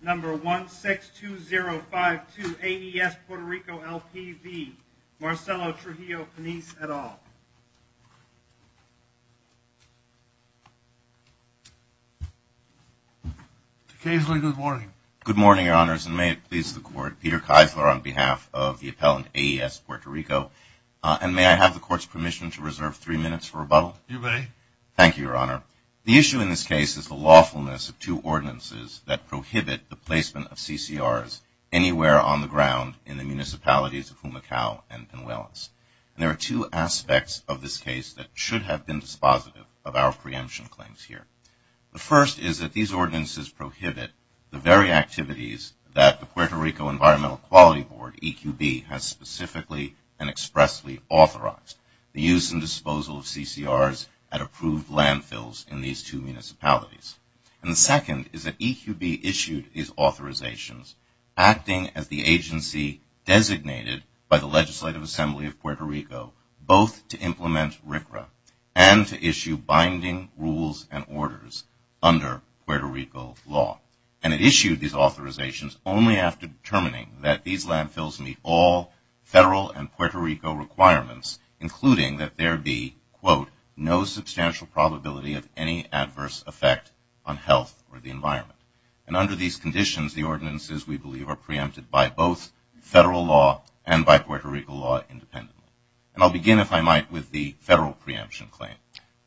Number 162052, AES Puerto Rico, L.P. v. Marcelo Trujillo-Panisse, et al. Mr. Kaisler, good morning. Good morning, Your Honors, and may it please the Court. Peter Kaisler on behalf of the appellant, AES Puerto Rico, and may I have the Court's permission to reserve three minutes for rebuttal? You may. Thank you, Your Honor. The issue in this case is the lawfulness of two ordinances that prohibit the placement of CCRs anywhere on the ground in the municipalities of Humacao and Pinuelos. And there are two aspects of this case that should have been dispositive of our preemption claims here. The first is that these ordinances prohibit the very activities that the Puerto Rico Environmental Quality Board, EQB, has specifically and expressly authorized, the use and disposal of CCRs at approved landfills in these two municipalities. And the second is that EQB issued these authorizations acting as the agency designated by the Legislative Assembly of Puerto Rico, both to implement RCRA and to issue binding rules and orders under Puerto Rico law. And it issued these authorizations only after determining that these landfills meet all federal and Puerto Rico requirements, including that there be, quote, no substantial probability of any adverse effect on health or the environment. And under these conditions, the ordinances, we believe, are preempted by both federal law and by Puerto Rico law independently. And I'll begin, if I might, with the federal preemption claim.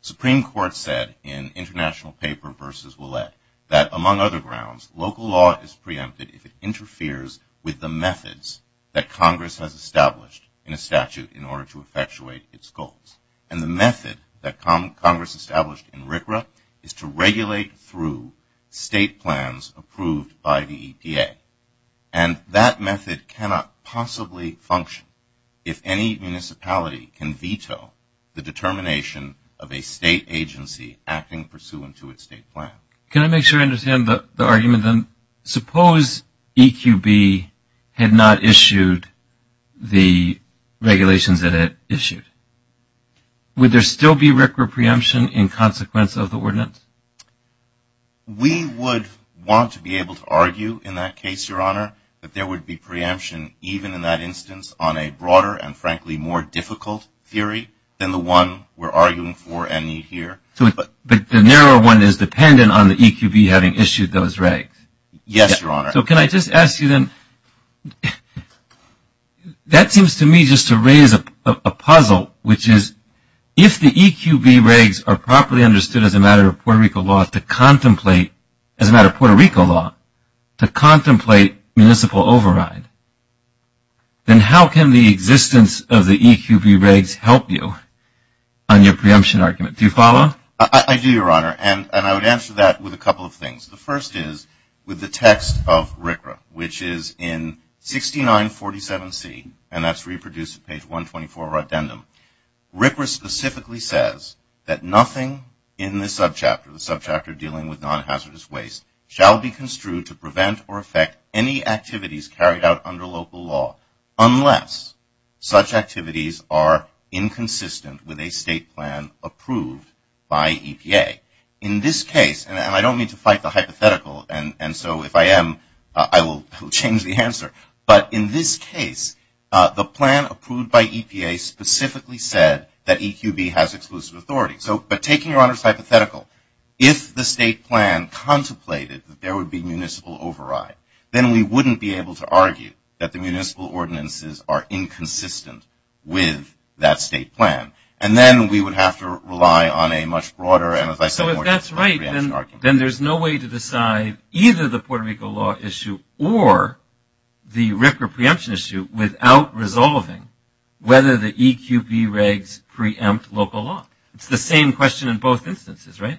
Supreme Court said in international paper versus Willett that among other grounds, local law is preempted if it interferes with the methods that Congress has established in a statute in order to effectuate its goals. And the method that Congress established in RCRA is to regulate through state plans approved by the EPA. And that method cannot possibly function if any municipality can veto the determination of a state agency acting pursuant to its state plan. Can I make sure I understand the argument then? Suppose EQB had not issued the regulations that it issued. Would there still be RCRA preemption in consequence of the ordinance? We would want to be able to argue in that case, Your Honor, that there would be preemption even in that instance on a broader and, frankly, more difficult theory than the one we're arguing for and need here. But the narrow one is dependent on the EQB having issued those regs. Yes, Your Honor. So can I just ask you then, that seems to me just to raise a puzzle, which is if the EQB regs are properly understood as a matter of Puerto Rico law to contemplate municipal override, then how can the existence of the EQB regs help you on your preemption argument? Do you follow? I do, Your Honor, and I would answer that with a couple of things. The first is with the text of RCRA, which is in 6947C, and that's reproduced at page 124 of our addendum. RCRA specifically says that nothing in this subchapter, the subchapter dealing with non-hazardous waste, shall be construed to prevent or affect any activities carried out under local law unless such activities are inconsistent with a state plan approved by EPA. In this case, and I don't mean to fight the hypothetical, and so if I am I will change the answer, but in this case the plan approved by EPA specifically said that EQB has exclusive authority. But taking Your Honor's hypothetical, if the state plan contemplated that there would be municipal override, then we wouldn't be able to argue that the municipal ordinances are inconsistent with that state plan, and then we would have to rely on a much broader and, as I said, more general preemption argument. So if that's right, then there's no way to decide either the Puerto Rico law issue or the RCRA preemption issue without resolving whether the EQB regs preempt local law. It's the same question in both instances, right?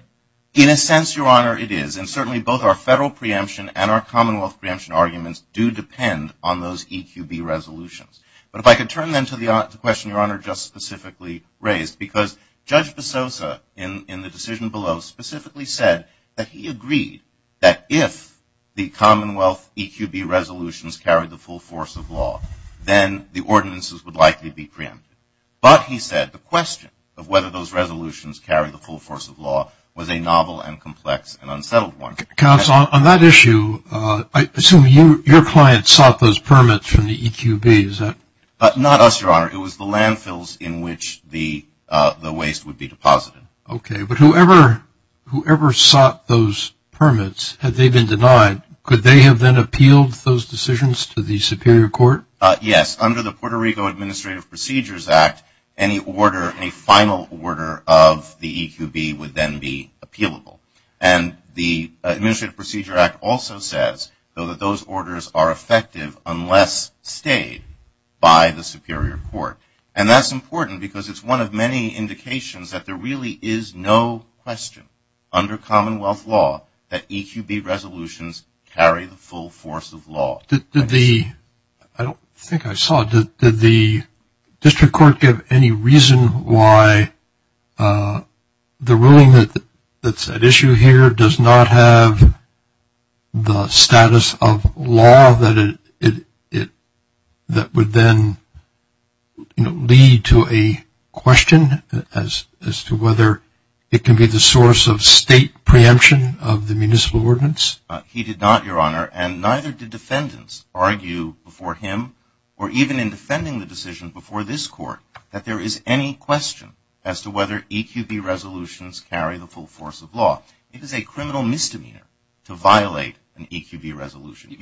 In a sense, Your Honor, it is, and certainly both our federal preemption and our commonwealth preemption arguments do depend on those EQB resolutions. But if I could turn then to the question Your Honor just specifically raised, because Judge DeSosa in the decision below specifically said that he agreed that if the commonwealth EQB resolutions carried the full force of law, then the ordinances would likely be preempted. But, he said, the question of whether those resolutions carried the full force of law was a novel and complex and unsettled one. Counsel, on that issue, I assume your client sought those permits from the EQB, is that? Not us, Your Honor. It was the landfills in which the waste would be deposited. Okay, but whoever sought those permits, had they been denied, could they have then appealed those decisions to the superior court? Yes, under the Puerto Rico Administrative Procedures Act, any order, any final order of the EQB would then be appealable. And the Administrative Procedures Act also says, though, that those orders are effective unless stayed by the superior court. And that's important because it's one of many indications that there really is no question under commonwealth law that EQB resolutions carry the full force of law. I don't think I saw, did the district court give any reason why the ruling that's at issue here does not have the status of law that would then lead to a question as to whether it can be the source of state preemption of the municipal ordinance? He did not, Your Honor. And neither did defendants argue before him or even in defending the decision before this court that there is any question as to whether EQB resolutions carry the full force of law. It is a criminal misdemeanor to violate an EQB resolution.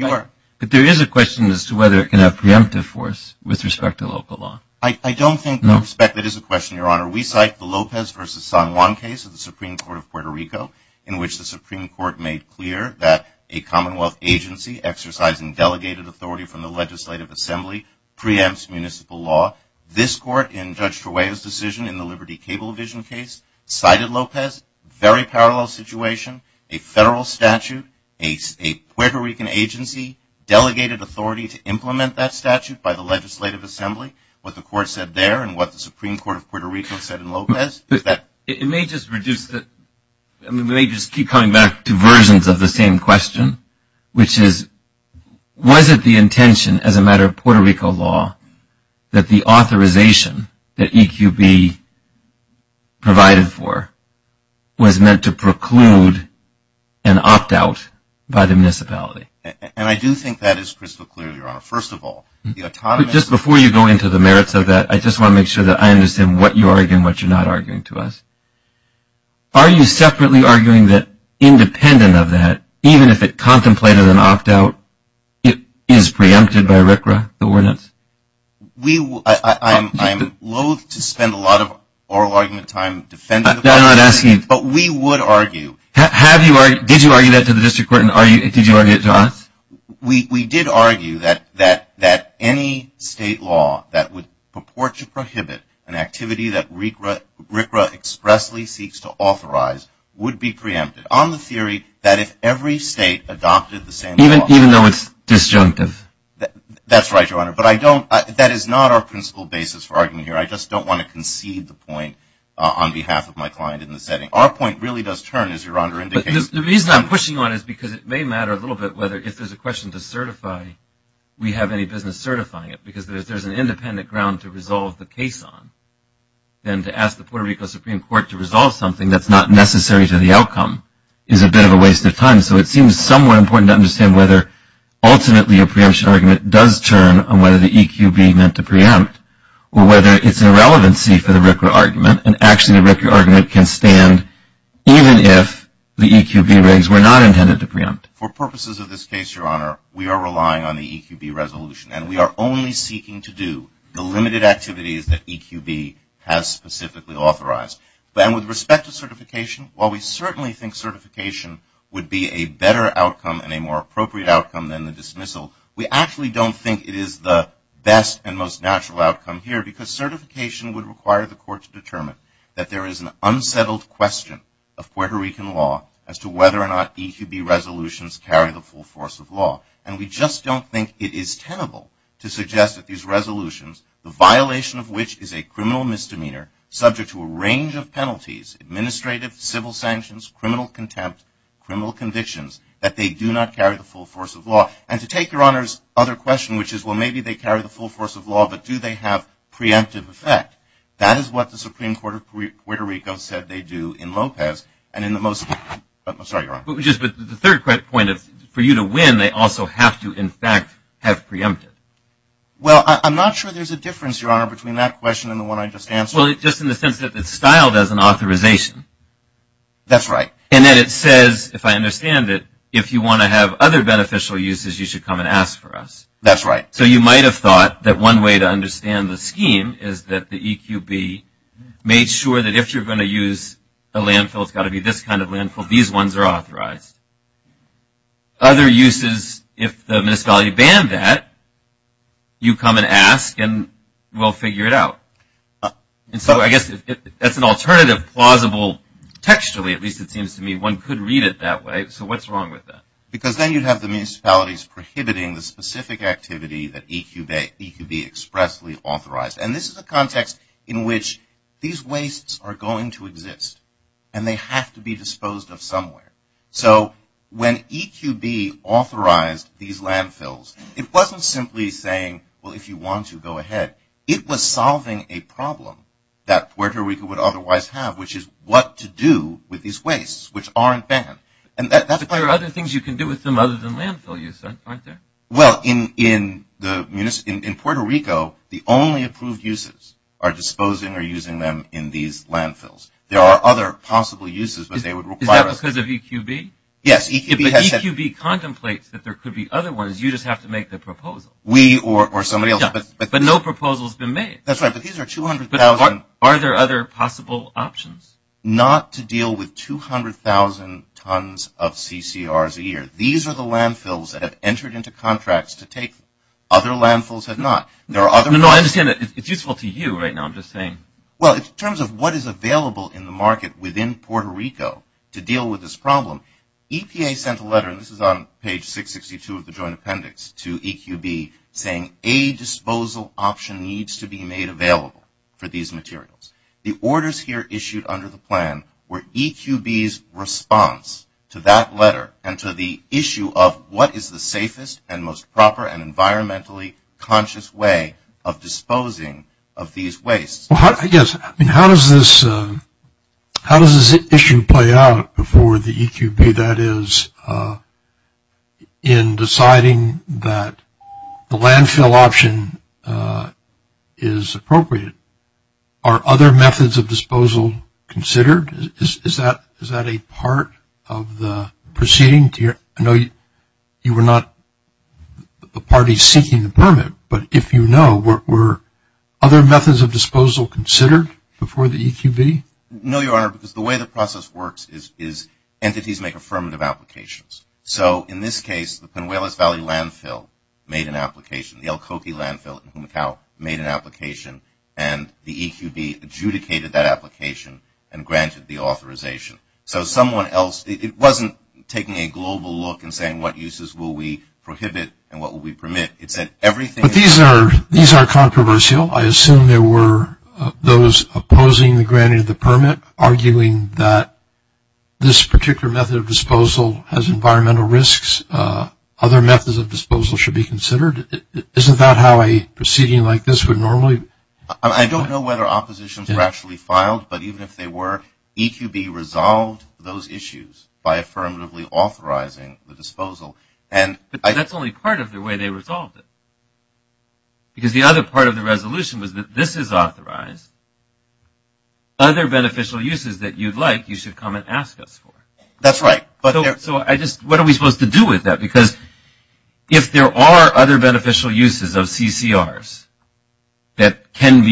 But there is a question as to whether it can have preemptive force with respect to local law. I don't think that is a question, Your Honor. We cite the Lopez versus San Juan case of the Supreme Court of Puerto Rico in which the Supreme Court made clear that a commonwealth agency exercising delegated authority from the legislative assembly preempts municipal law. This court in Judge Trujillo's decision in the Liberty Cable Division case cited Lopez, very parallel situation, a federal statute, a Puerto Rican agency delegated authority to implement that statute by the legislative assembly. What the court said there and what the Supreme Court of Puerto Rico said in Lopez is that it may just reduce the – I mean, we may just keep coming back to versions of the same question, which is was it the intention as a matter of Puerto Rico law that the authorization that EQB provided for was meant to preclude an opt-out by the municipality? And I do think that is crystal clear, Your Honor. First of all, the autonomy – But just before you go into the merits of that, I just want to make sure that I understand what you're arguing and what you're not arguing to us. Are you separately arguing that independent of that, even if it contemplated an opt-out, it is preempted by RCRA, the ordinance? We – I'm loathe to spend a lot of oral argument time defending – I'm not asking – But we would argue – Have you – did you argue that to the district court and did you argue it to us? We did argue that any state law that would purport to prohibit an activity that RCRA expressly seeks to authorize would be preempted on the theory that if every state adopted the same – Even though it's disjunctive. That's right, Your Honor. But I don't – that is not our principal basis for arguing here. I just don't want to concede the point on behalf of my client in the setting. Our point really does turn, as Your Honor indicated – The reason I'm pushing on it is because it may matter a little bit whether if there's a question to certify we have any business certifying it because if there's an independent ground to resolve the case on, then to ask the Puerto Rico Supreme Court to resolve something that's not necessary to the outcome is a bit of a waste of time. So it seems somewhere important to understand whether ultimately a preemption argument does turn on whether the EQB meant to preempt or whether it's a relevancy for the RCRA argument and actually the RCRA argument can stand even if the EQB rigs were not intended to preempt. For purposes of this case, Your Honor, we are relying on the EQB resolution and we are only seeking to do the limited activities that EQB has specifically authorized. And with respect to certification, while we certainly think certification would be a better outcome and a more appropriate outcome than the dismissal, we actually don't think it is the best and most natural outcome here because certification would require the court to determine that there is an unsettled question of Puerto Rican law as to whether or not EQB resolutions carry the full force of law. And we just don't think it is tenable to suggest that these resolutions, the violation of which is a criminal misdemeanor subject to a range of penalties, administrative, civil sanctions, criminal contempt, criminal convictions, that they do not carry the full force of law. And to take Your Honor's other question, which is well maybe they carry the full force of law but do they have preemptive effect, that is what the Supreme Court of Puerto Rico said they do in Lopez and in the most, I'm sorry Your Honor. The third quick point is for you to win, they also have to in fact have preemptive. Well, I'm not sure there's a difference, Your Honor, between that question and the one I just answered. Well, just in the sense that it's styled as an authorization. That's right. And then it says, if I understand it, if you want to have other beneficial uses, you should come and ask for us. That's right. So you might have thought that one way to understand the scheme is that the EQB made sure that if you're going to use a landfill, it's got to be this kind of landfill, these ones are authorized. Other uses, if the municipality banned that, you come and ask and we'll figure it out. And so I guess that's an alternative plausible textually, at least it seems to me. One could read it that way. So what's wrong with that? Because then you'd have the municipalities prohibiting the specific activity that EQB expressly authorized. And this is a context in which these wastes are going to exist and they have to be disposed of somewhere. So when EQB authorized these landfills, it wasn't simply saying, well, if you want to, go ahead. It was solving a problem that Puerto Rico would otherwise have, which is what to do with these wastes which aren't banned. There are other things you can do with them other than landfill use, aren't there? Well, in Puerto Rico, the only approved uses are disposing or using them in these landfills. There are other possible uses. Is that because of EQB? Yes. But EQB contemplates that there could be other ones. You just have to make the proposal. We or somebody else. But no proposal has been made. That's right. But these are 200,000. Are there other possible options? Not to deal with 200,000 tons of CCRs a year. These are the landfills that have entered into contracts to take them. Other landfills have not. No, I understand that. It's useful to you right now. I'm just saying. Well, in terms of what is available in the market within Puerto Rico to deal with this problem, EPA sent a letter, and this is on page 662 of the joint appendix to EQB, saying a disposal option needs to be made available for these materials. The orders here issued under the plan were EQB's response to that letter and to the issue of what is the safest and most proper and environmentally conscious way of disposing of these wastes. Yes. I mean, how does this issue play out for the EQB, that is in deciding that the landfill option is appropriate? Are other methods of disposal considered? Is that a part of the proceeding? I know you were not the party seeking the permit, but if you know, were other methods of disposal considered before the EQB? No, Your Honor, because the way the process works is entities make affirmative applications. So, in this case, the Pinuelos Valley Landfill made an application. The El Coqui Landfill in Humacao made an application, and the EQB adjudicated that application and granted the authorization. So, someone else, it wasn't taking a global look and saying what uses will we prohibit and what will we permit. It said everything. But these are controversial. I assume there were those opposing the granting of the permit, arguing that this particular method of disposal has environmental risks. Other methods of disposal should be considered. Isn't that how a proceeding like this would normally? I don't know whether oppositions were actually filed, but even if they were, EQB resolved those issues by affirmatively authorizing the disposal. But that's only part of the way they resolved it. Because the other part of the resolution was that this is authorized. Other beneficial uses that you'd like, you should come and ask us for. That's right. So, what are we supposed to do with that? Because if there are other beneficial uses of CCRs that can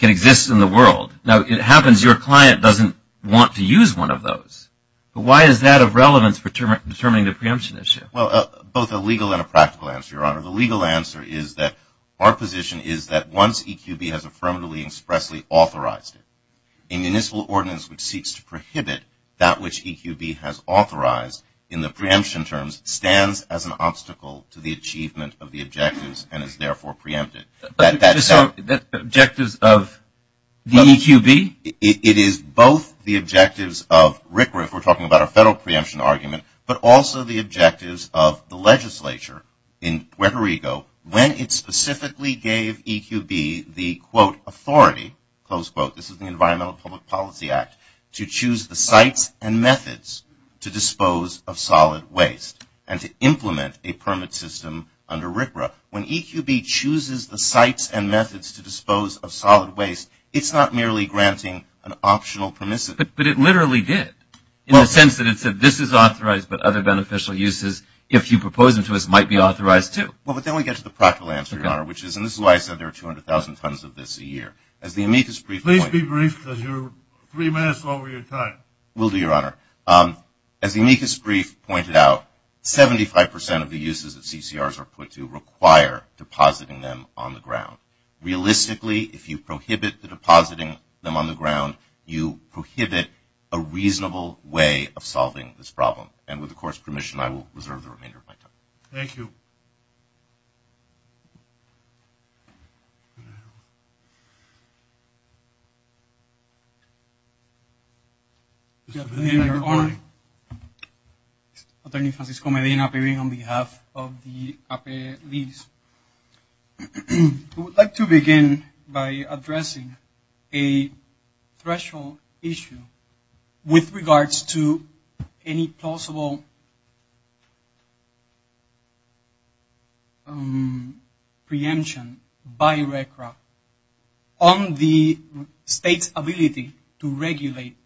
exist in the world, now, it happens your client doesn't want to use one of those. But why is that of relevance for determining the preemption issue? Well, both a legal and a practical answer, Your Honor. The legal answer is that our position is that once EQB has affirmatively and expressly authorized it, a municipal ordinance which seeks to prohibit that which EQB has authorized in the preemption terms stands as an obstacle to the achievement of the objectives and is therefore preempted. Objectives of the EQB? It is both the objectives of RCRA, if we're talking about a federal preemption argument, but also the objectives of the legislature in Puerto Rico, when it specifically gave EQB the, quote, authority, close quote, this is the Environmental Public Policy Act, to choose the sites and methods to dispose of solid waste and to implement a permit system under RCRA. When EQB chooses the sites and methods to dispose of solid waste, it's not merely granting an optional permissive. But it literally did. In the sense that it said this is authorized, but other beneficial uses, if you propose them to us, might be authorized too. Well, but then we get to the practical answer, Your Honor, which is, and this is why I said there are 200,000 tons of this a year. As the amicus brief pointed out. Please be brief because you're three minutes over your time. Will do, Your Honor. As the amicus brief pointed out, 75% of the uses of CCRs are put to require depositing them on the ground. Realistically, if you prohibit the depositing them on the ground, you prohibit a reasonable way of solving this problem. And with the Court's permission, I will reserve the remainder of my time. Thank you. Mr. Mayor, Your Honor. Attorney Francisco Medina appearing on behalf of the APLIS. I would like to begin by addressing a threshold issue with regards to any possible preemption by RCRA on the state's ability to regulate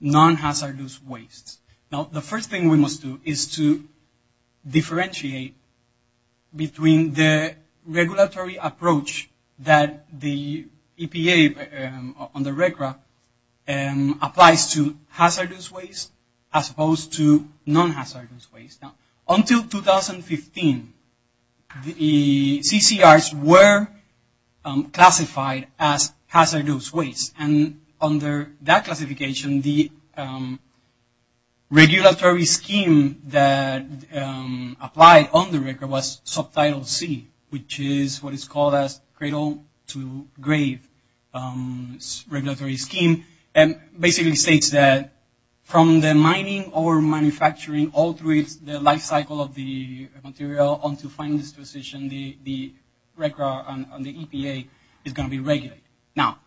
non-hazardous wastes. Now, the first thing we must do is to differentiate between the regulatory approach that the EPA under RCRA applies to hazardous waste as opposed to non-hazardous waste. Now, until 2015, the CCRs were classified as hazardous waste. And under that classification, the regulatory scheme that applied under RCRA was subtitle C, which is what is called a cradle-to-grave regulatory scheme. And basically states that from the mining or manufacturing, all through the life cycle of the material on to final disposition, the RCRA and the EPA is going to be regulated. Now,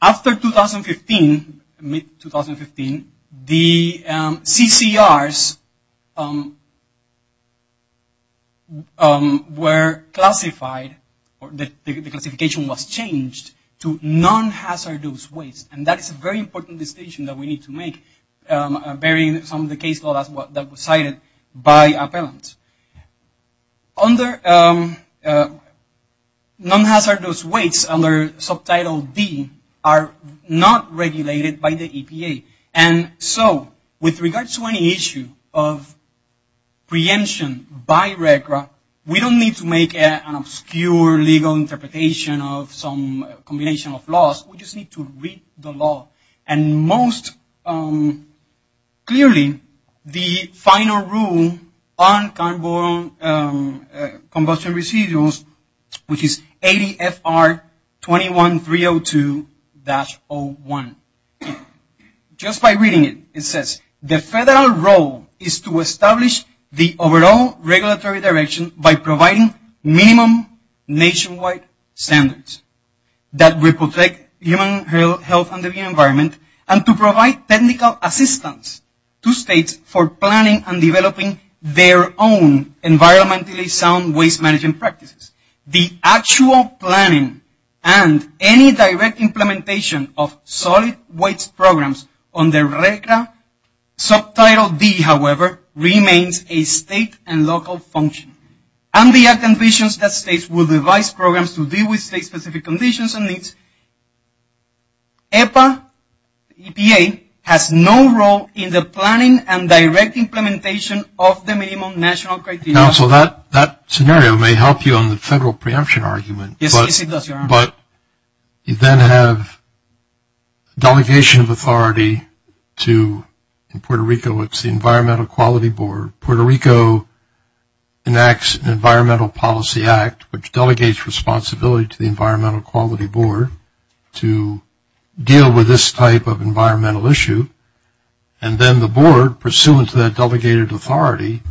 after 2015, mid-2015, the CCRs were classified, the classification was changed to non-hazardous waste. And that is a very important distinction that we need to make bearing some of the case law that was cited by appellants. Under non-hazardous waste, under subtitle D, are not regulated by the EPA. And so, with regards to any issue of preemption by RCRA, we don't need to make an obscure legal interpretation of some combination of laws. We just need to read the law. And most clearly, the final rule on combustion residuals, which is ADFR 21.302-01. Just by reading it, it says, the federal role is to establish the overall regulatory direction by providing minimum nationwide standards that protect human health and the environment, and to provide technical assistance to states for planning and developing their own environmentally sound waste management practices. The actual planning and any direct implementation of solid waste programs under RCRA, subtitle D, however, remains a state and local function. And the act envisions that states will devise programs to deal with state-specific conditions and needs. EPA has no role in the planning and direct implementation of the minimum national criteria. Counsel, that scenario may help you on the federal preemption argument. Yes, it does, Your Honor. But you then have delegation of authority to, in Puerto Rico, it's the Environmental Quality Board. Puerto Rico enacts an Environmental Policy Act, which delegates responsibility to the Environmental Quality Board to deal with this type of environmental issue. And then the board, pursuant to that delegated authority,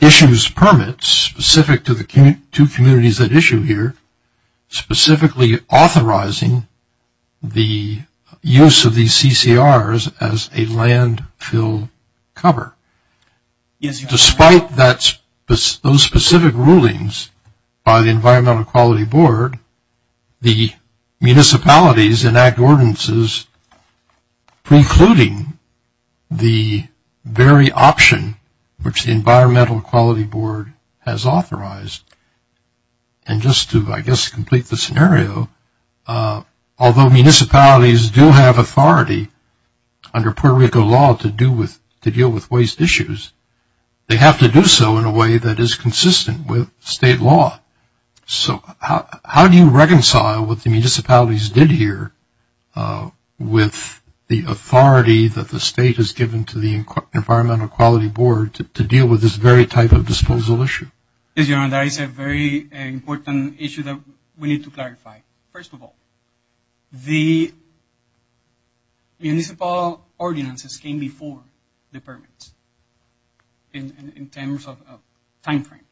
issues permits specific to the two communities that issue here, specifically authorizing the use of these CCRs as a landfill cover. Yes, Your Honor. Despite those specific rulings by the Environmental Quality Board, the municipalities enact ordinances precluding the very option which the Environmental Quality Board has authorized. And just to, I guess, complete the scenario, although municipalities do have authority under Puerto Rico law to deal with waste issues, they have to do so in a way that is consistent with state law. So how do you reconcile what the municipalities did here with the authority that the state has given to the Environmental Quality Board to deal with this very type of disposal issue? Yes, Your Honor, that is a very important issue that we need to clarify. First of all, the municipal ordinances came before the permits in terms of time frame.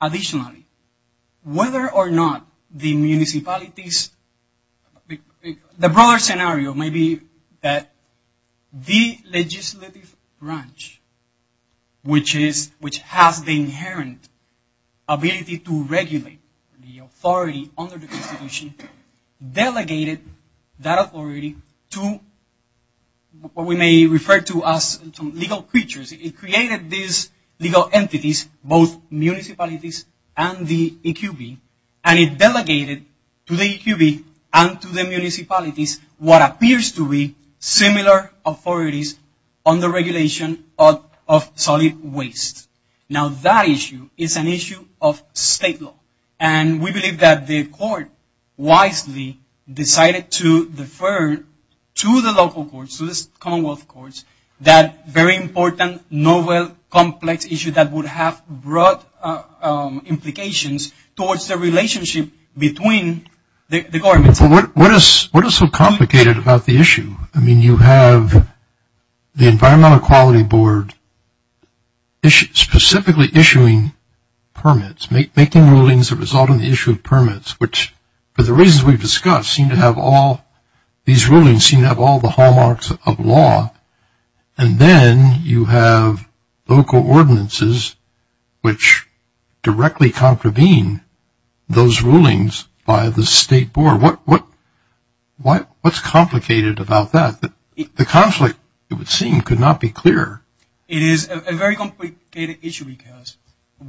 Additionally, whether or not the municipalities, the broader scenario may be that the legislative branch, which has the inherent ability to regulate the authority under the Constitution, delegated that authority to what we may refer to as legal creatures. It created these legal entities, both municipalities and the EQB, and it delegated to the EQB and to the municipalities what appears to be similar authorities on the regulation of solid waste. Now, that issue is an issue of state law, and we believe that the Court wisely decided to defer to the local courts, to the Commonwealth Courts, that very important, novel, complex issue that would have broad implications towards the relationship between the governments. What is so complicated about the issue? I mean, you have the Environmental Quality Board specifically issuing permits, making rulings that result in the issue of permits, which for the reasons we've discussed seem to have all, these rulings seem to have all the hallmarks of law. And then you have local ordinances, which directly contravene those rulings by the state board. What's complicated about that? The conflict, it would seem, could not be clearer. It is a very complicated issue, because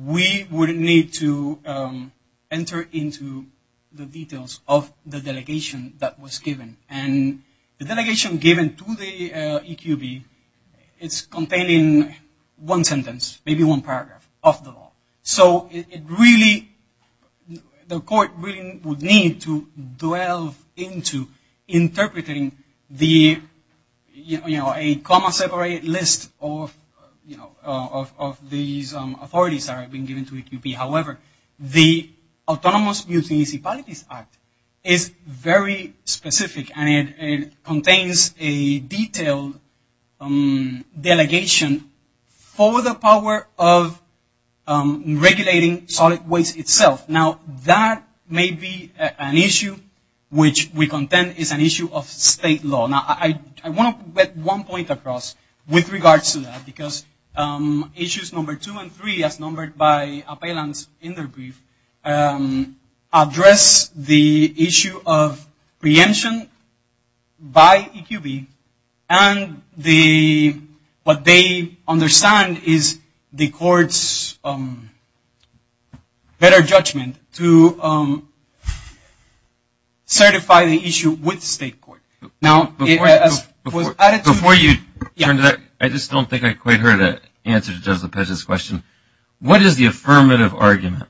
we would need to enter into the details of the delegation that was given. And the delegation given to the EQB is containing one sentence, maybe one paragraph, of the law. So it really, the Court really would need to delve into interpreting the, you know, a comma-separated list of, you know, of these authorities that are being given to EQB. However, the Autonomous Municipalities Act is very specific, and it contains a detailed delegation for the power of regulating solid waste itself. Now, that may be an issue which we contend is an issue of state law. Now, I want to put one point across with regards to that, because issues number two and three, as numbered by appellants in their brief, address the issue of preemption by EQB, and what they understand is the Court's better judgment to certify the issue with the state court. Now, as was added to- Before you turn to that, I just don't think I quite heard an answer to Judge Lopez's question. What is the affirmative argument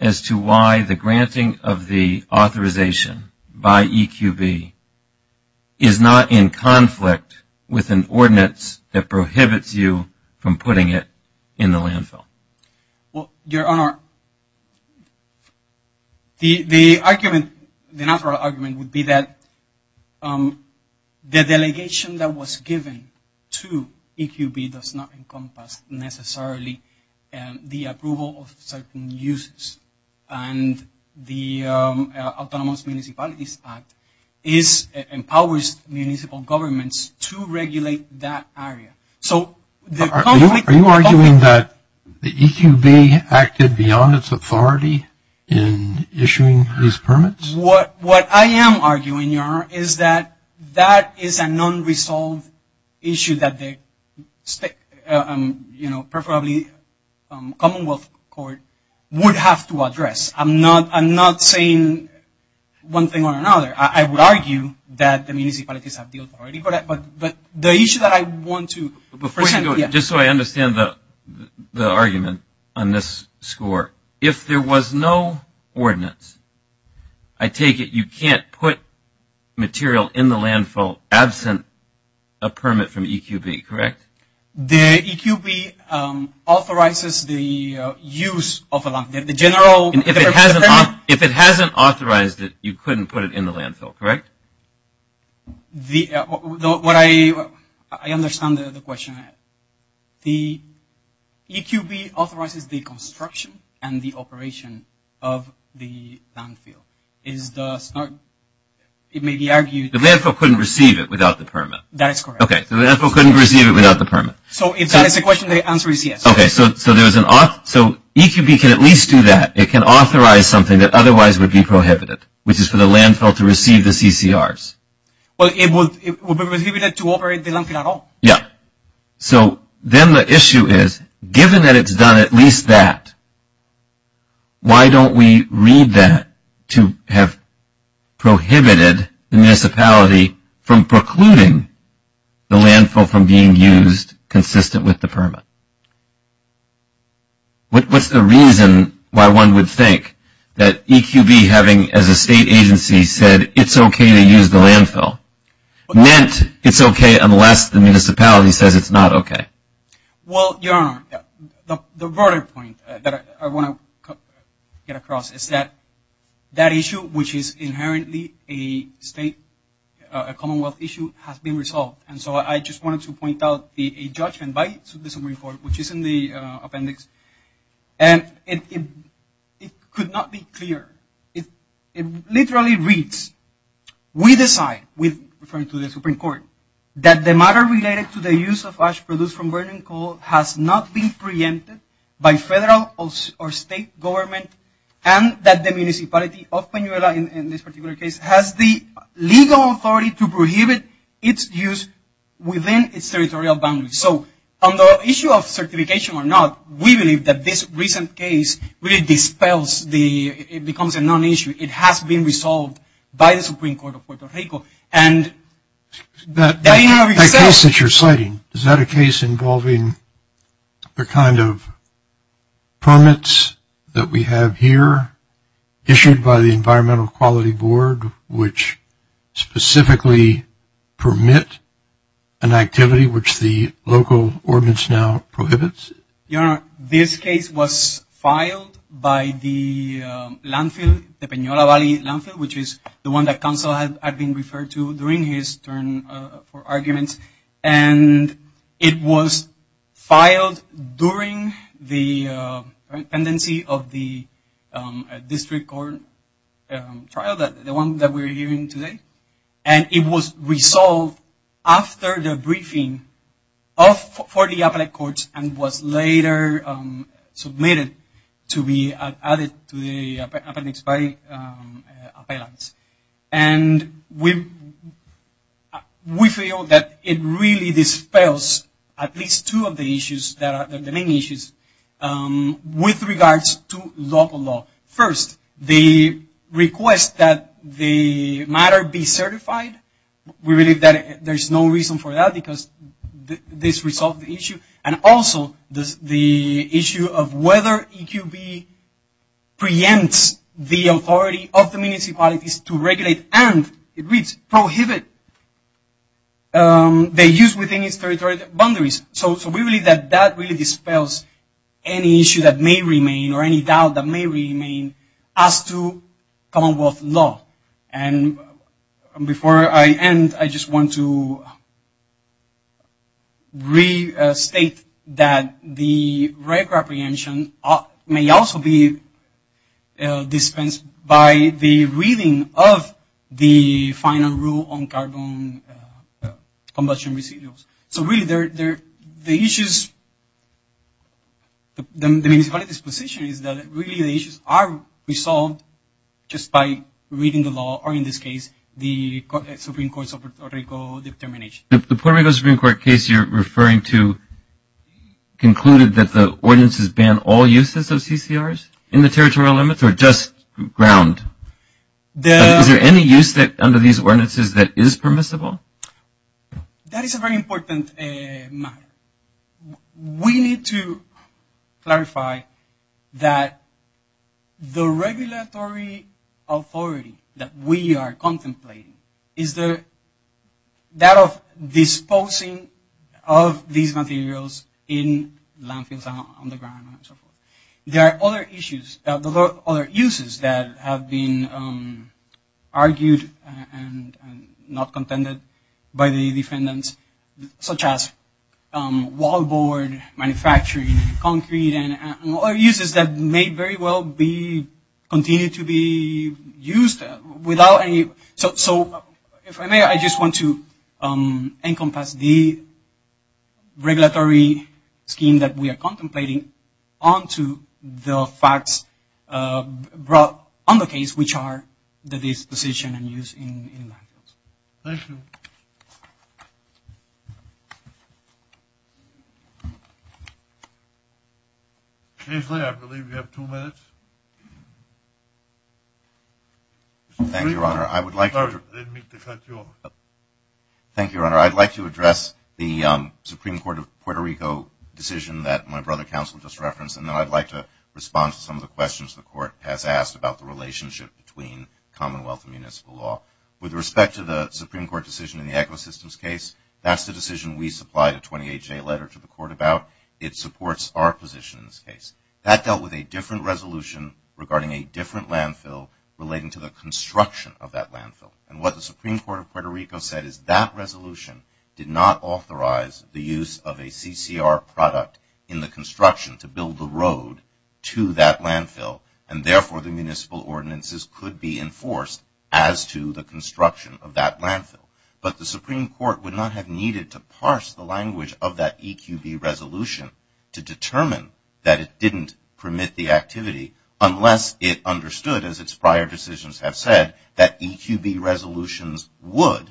as to why the granting of the authorization by EQB is not in conflict with an ordinance that prohibits you from putting it in the landfill? Well, Your Honor, the argument, the natural argument would be that the delegation that was given to EQB does not encompass necessarily the approval of certain uses, and the Autonomous Municipalities Act empowers municipal governments to regulate that area. Are you arguing that EQB acted beyond its authority in issuing these permits? What I am arguing, Your Honor, is that that is a non-resolved issue that the, you know, preferably Commonwealth Court would have to address. I'm not saying one thing or another. I would argue that the municipalities have the authority, but the issue that I want to present- I take it you can't put material in the landfill absent a permit from EQB, correct? The EQB authorizes the use of a landfill. If it hasn't authorized it, you couldn't put it in the landfill, correct? I understand the question. The EQB authorizes the construction and the operation of the landfill. It may be argued- The landfill couldn't receive it without the permit. That is correct. Okay, so the landfill couldn't receive it without the permit. So if that is the question, the answer is yes. Okay, so EQB can at least do that. It can authorize something that otherwise would be prohibited, which is for the landfill to receive the CCRs. Well, it would be prohibited to operate the landfill at all. Yeah. So then the issue is, given that it's done at least that, why don't we read that to have prohibited the municipality from precluding the landfill from being used consistent with the permit? What's the reason why one would think that EQB having, as a state agency, said it's okay to use the landfill, meant it's okay unless the municipality says it's not okay? Well, Your Honor, the broader point that I want to get across is that that issue, which is inherently a state, a commonwealth issue, has been resolved. And so I just wanted to point out a judgment by the Supreme Court, which is in the appendix, and it could not be clearer. It literally reads, we decide, referring to the Supreme Court, that the matter related to the use of ash produced from burning coal has not been preempted by federal or state government, and that the municipality of Panuela, in this particular case, has the legal authority to prohibit its use within its territorial boundaries. So on the issue of certification or not, we believe that this recent case really dispels the, it becomes a non-issue. It has been resolved by the Supreme Court of Puerto Rico. That case that you're citing, is that a case involving the kind of permits that we have here, issued by the Environmental Quality Board, which specifically permit an activity, which the local ordinance now prohibits? Your Honor, this case was filed by the landfill, the Panuela Valley Landfill, which is the one that counsel had been referred to during his turn for arguments. It was filed during the pendency of the district court trial, the one that we're hearing today, and it was resolved after the briefing for the appellate courts, and was later submitted to be added to the appendix by appellants. And we feel that it really dispels at least two of the issues, the main issues, with regards to local law. First, the request that the matter be certified, we believe that there's no reason for that, and also the issue of whether EQB preempts the authority of the municipalities to regulate, and it reads, prohibit the use within its territory boundaries. So we believe that that really dispels any issue that may remain, or any doubt that may remain, as to commonwealth law. And before I end, I just want to restate that the record apprehension may also be dispensed by the reading of the final rule on carbon combustion residuals. So really, the issues, the municipalities' position is that really the issues are resolved just by reading the law, or in this case, the Supreme Court's Puerto Rico determination. The Puerto Rico Supreme Court case you're referring to concluded that the ordinances ban all uses of CCRs in the territorial limits, or just ground? Is there any use under these ordinances that is permissible? That is a very important matter. We need to clarify that the regulatory authority that we are contemplating is that of disposing of these materials in landfills, on the ground, and so forth. There are other issues, other uses that have been argued and not contended by the defendants, such as wallboard manufacturing, concrete, and other uses that may very well be, continue to be used without any, so if I may, I just want to encompass the regulatory scheme that we are contemplating onto the facts brought on the case, which are the disposition and use in landfills. Thank you. I believe we have two minutes. Thank you, Your Honor. I would like to address the Supreme Court of Puerto Rico decision that my brother counsel just referenced, and then I'd like to respond to some of the questions the court has asked about the relationship between Commonwealth and municipal law. With respect to the Supreme Court decision in the Ecosystems case, that's the decision we supplied a 28-J letter to the court about. It supports our position in this case. That dealt with a different resolution regarding a different landfill relating to the construction of that landfill. And what the Supreme Court of Puerto Rico said is that resolution did not authorize the use of a CCR product in the construction to build the road to that landfill, and therefore the municipal ordinances could be enforced as to the construction of that landfill. But the Supreme Court would not have needed to parse the language of that EQB resolution to determine that it didn't permit the activity unless it understood, as its prior decisions have said, that EQB resolutions would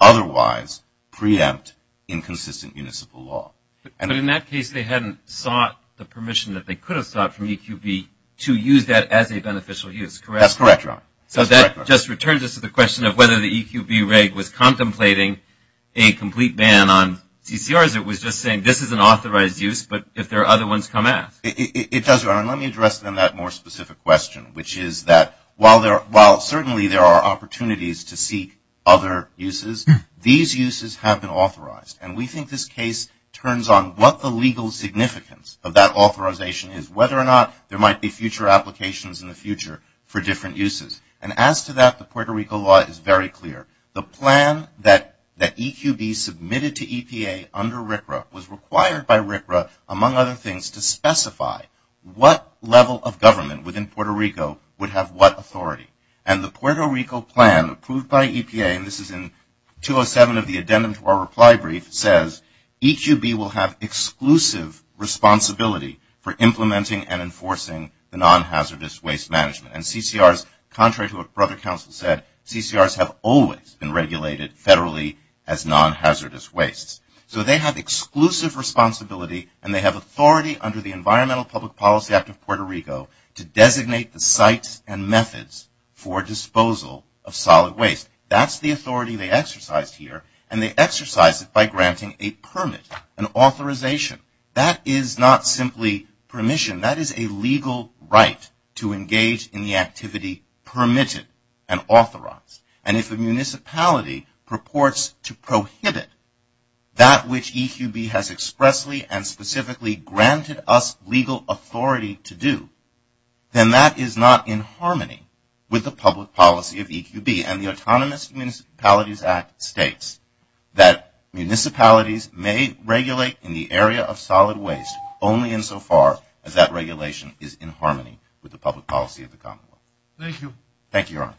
otherwise preempt inconsistent municipal law. But in that case, they hadn't sought the permission that they could have sought from EQB to use that as a beneficial use, correct? That's correct, Your Honor. So that just returns us to the question of whether the EQB reg was contemplating a complete ban on CCRs. And it was just saying this is an authorized use, but if there are other ones, come ask. It does, Your Honor. And let me address then that more specific question, which is that while certainly there are opportunities to seek other uses, these uses have been authorized. And we think this case turns on what the legal significance of that authorization is, whether or not there might be future applications in the future for different uses. And as to that, the Puerto Rico law is very clear. The plan that EQB submitted to EPA under RCRA was required by RCRA, among other things, to specify what level of government within Puerto Rico would have what authority. And the Puerto Rico plan approved by EPA, and this is in 207 of the addendum to our reply brief, says EQB will have exclusive responsibility for implementing and enforcing the non-hazardous waste management. And CCRs, contrary to what Brother Counsel said, CCRs have always been regulated federally as non-hazardous wastes. So they have exclusive responsibility, and they have authority under the Environmental Public Policy Act of Puerto Rico to designate the sites and methods for disposal of solid waste. That's the authority they exercised here, and they exercised it by granting a permit, an authorization. That is not simply permission. That is a legal right to engage in the activity permitted and authorized. And if a municipality purports to prohibit that which EQB has expressly and specifically granted us legal authority to do, then that is not in harmony with the public policy of EQB. And the Autonomous Municipalities Act states that municipalities may regulate in the area of solid waste only insofar as that regulation is in harmony with the public policy of the commonwealth. Thank you. Thank you, Your Honor.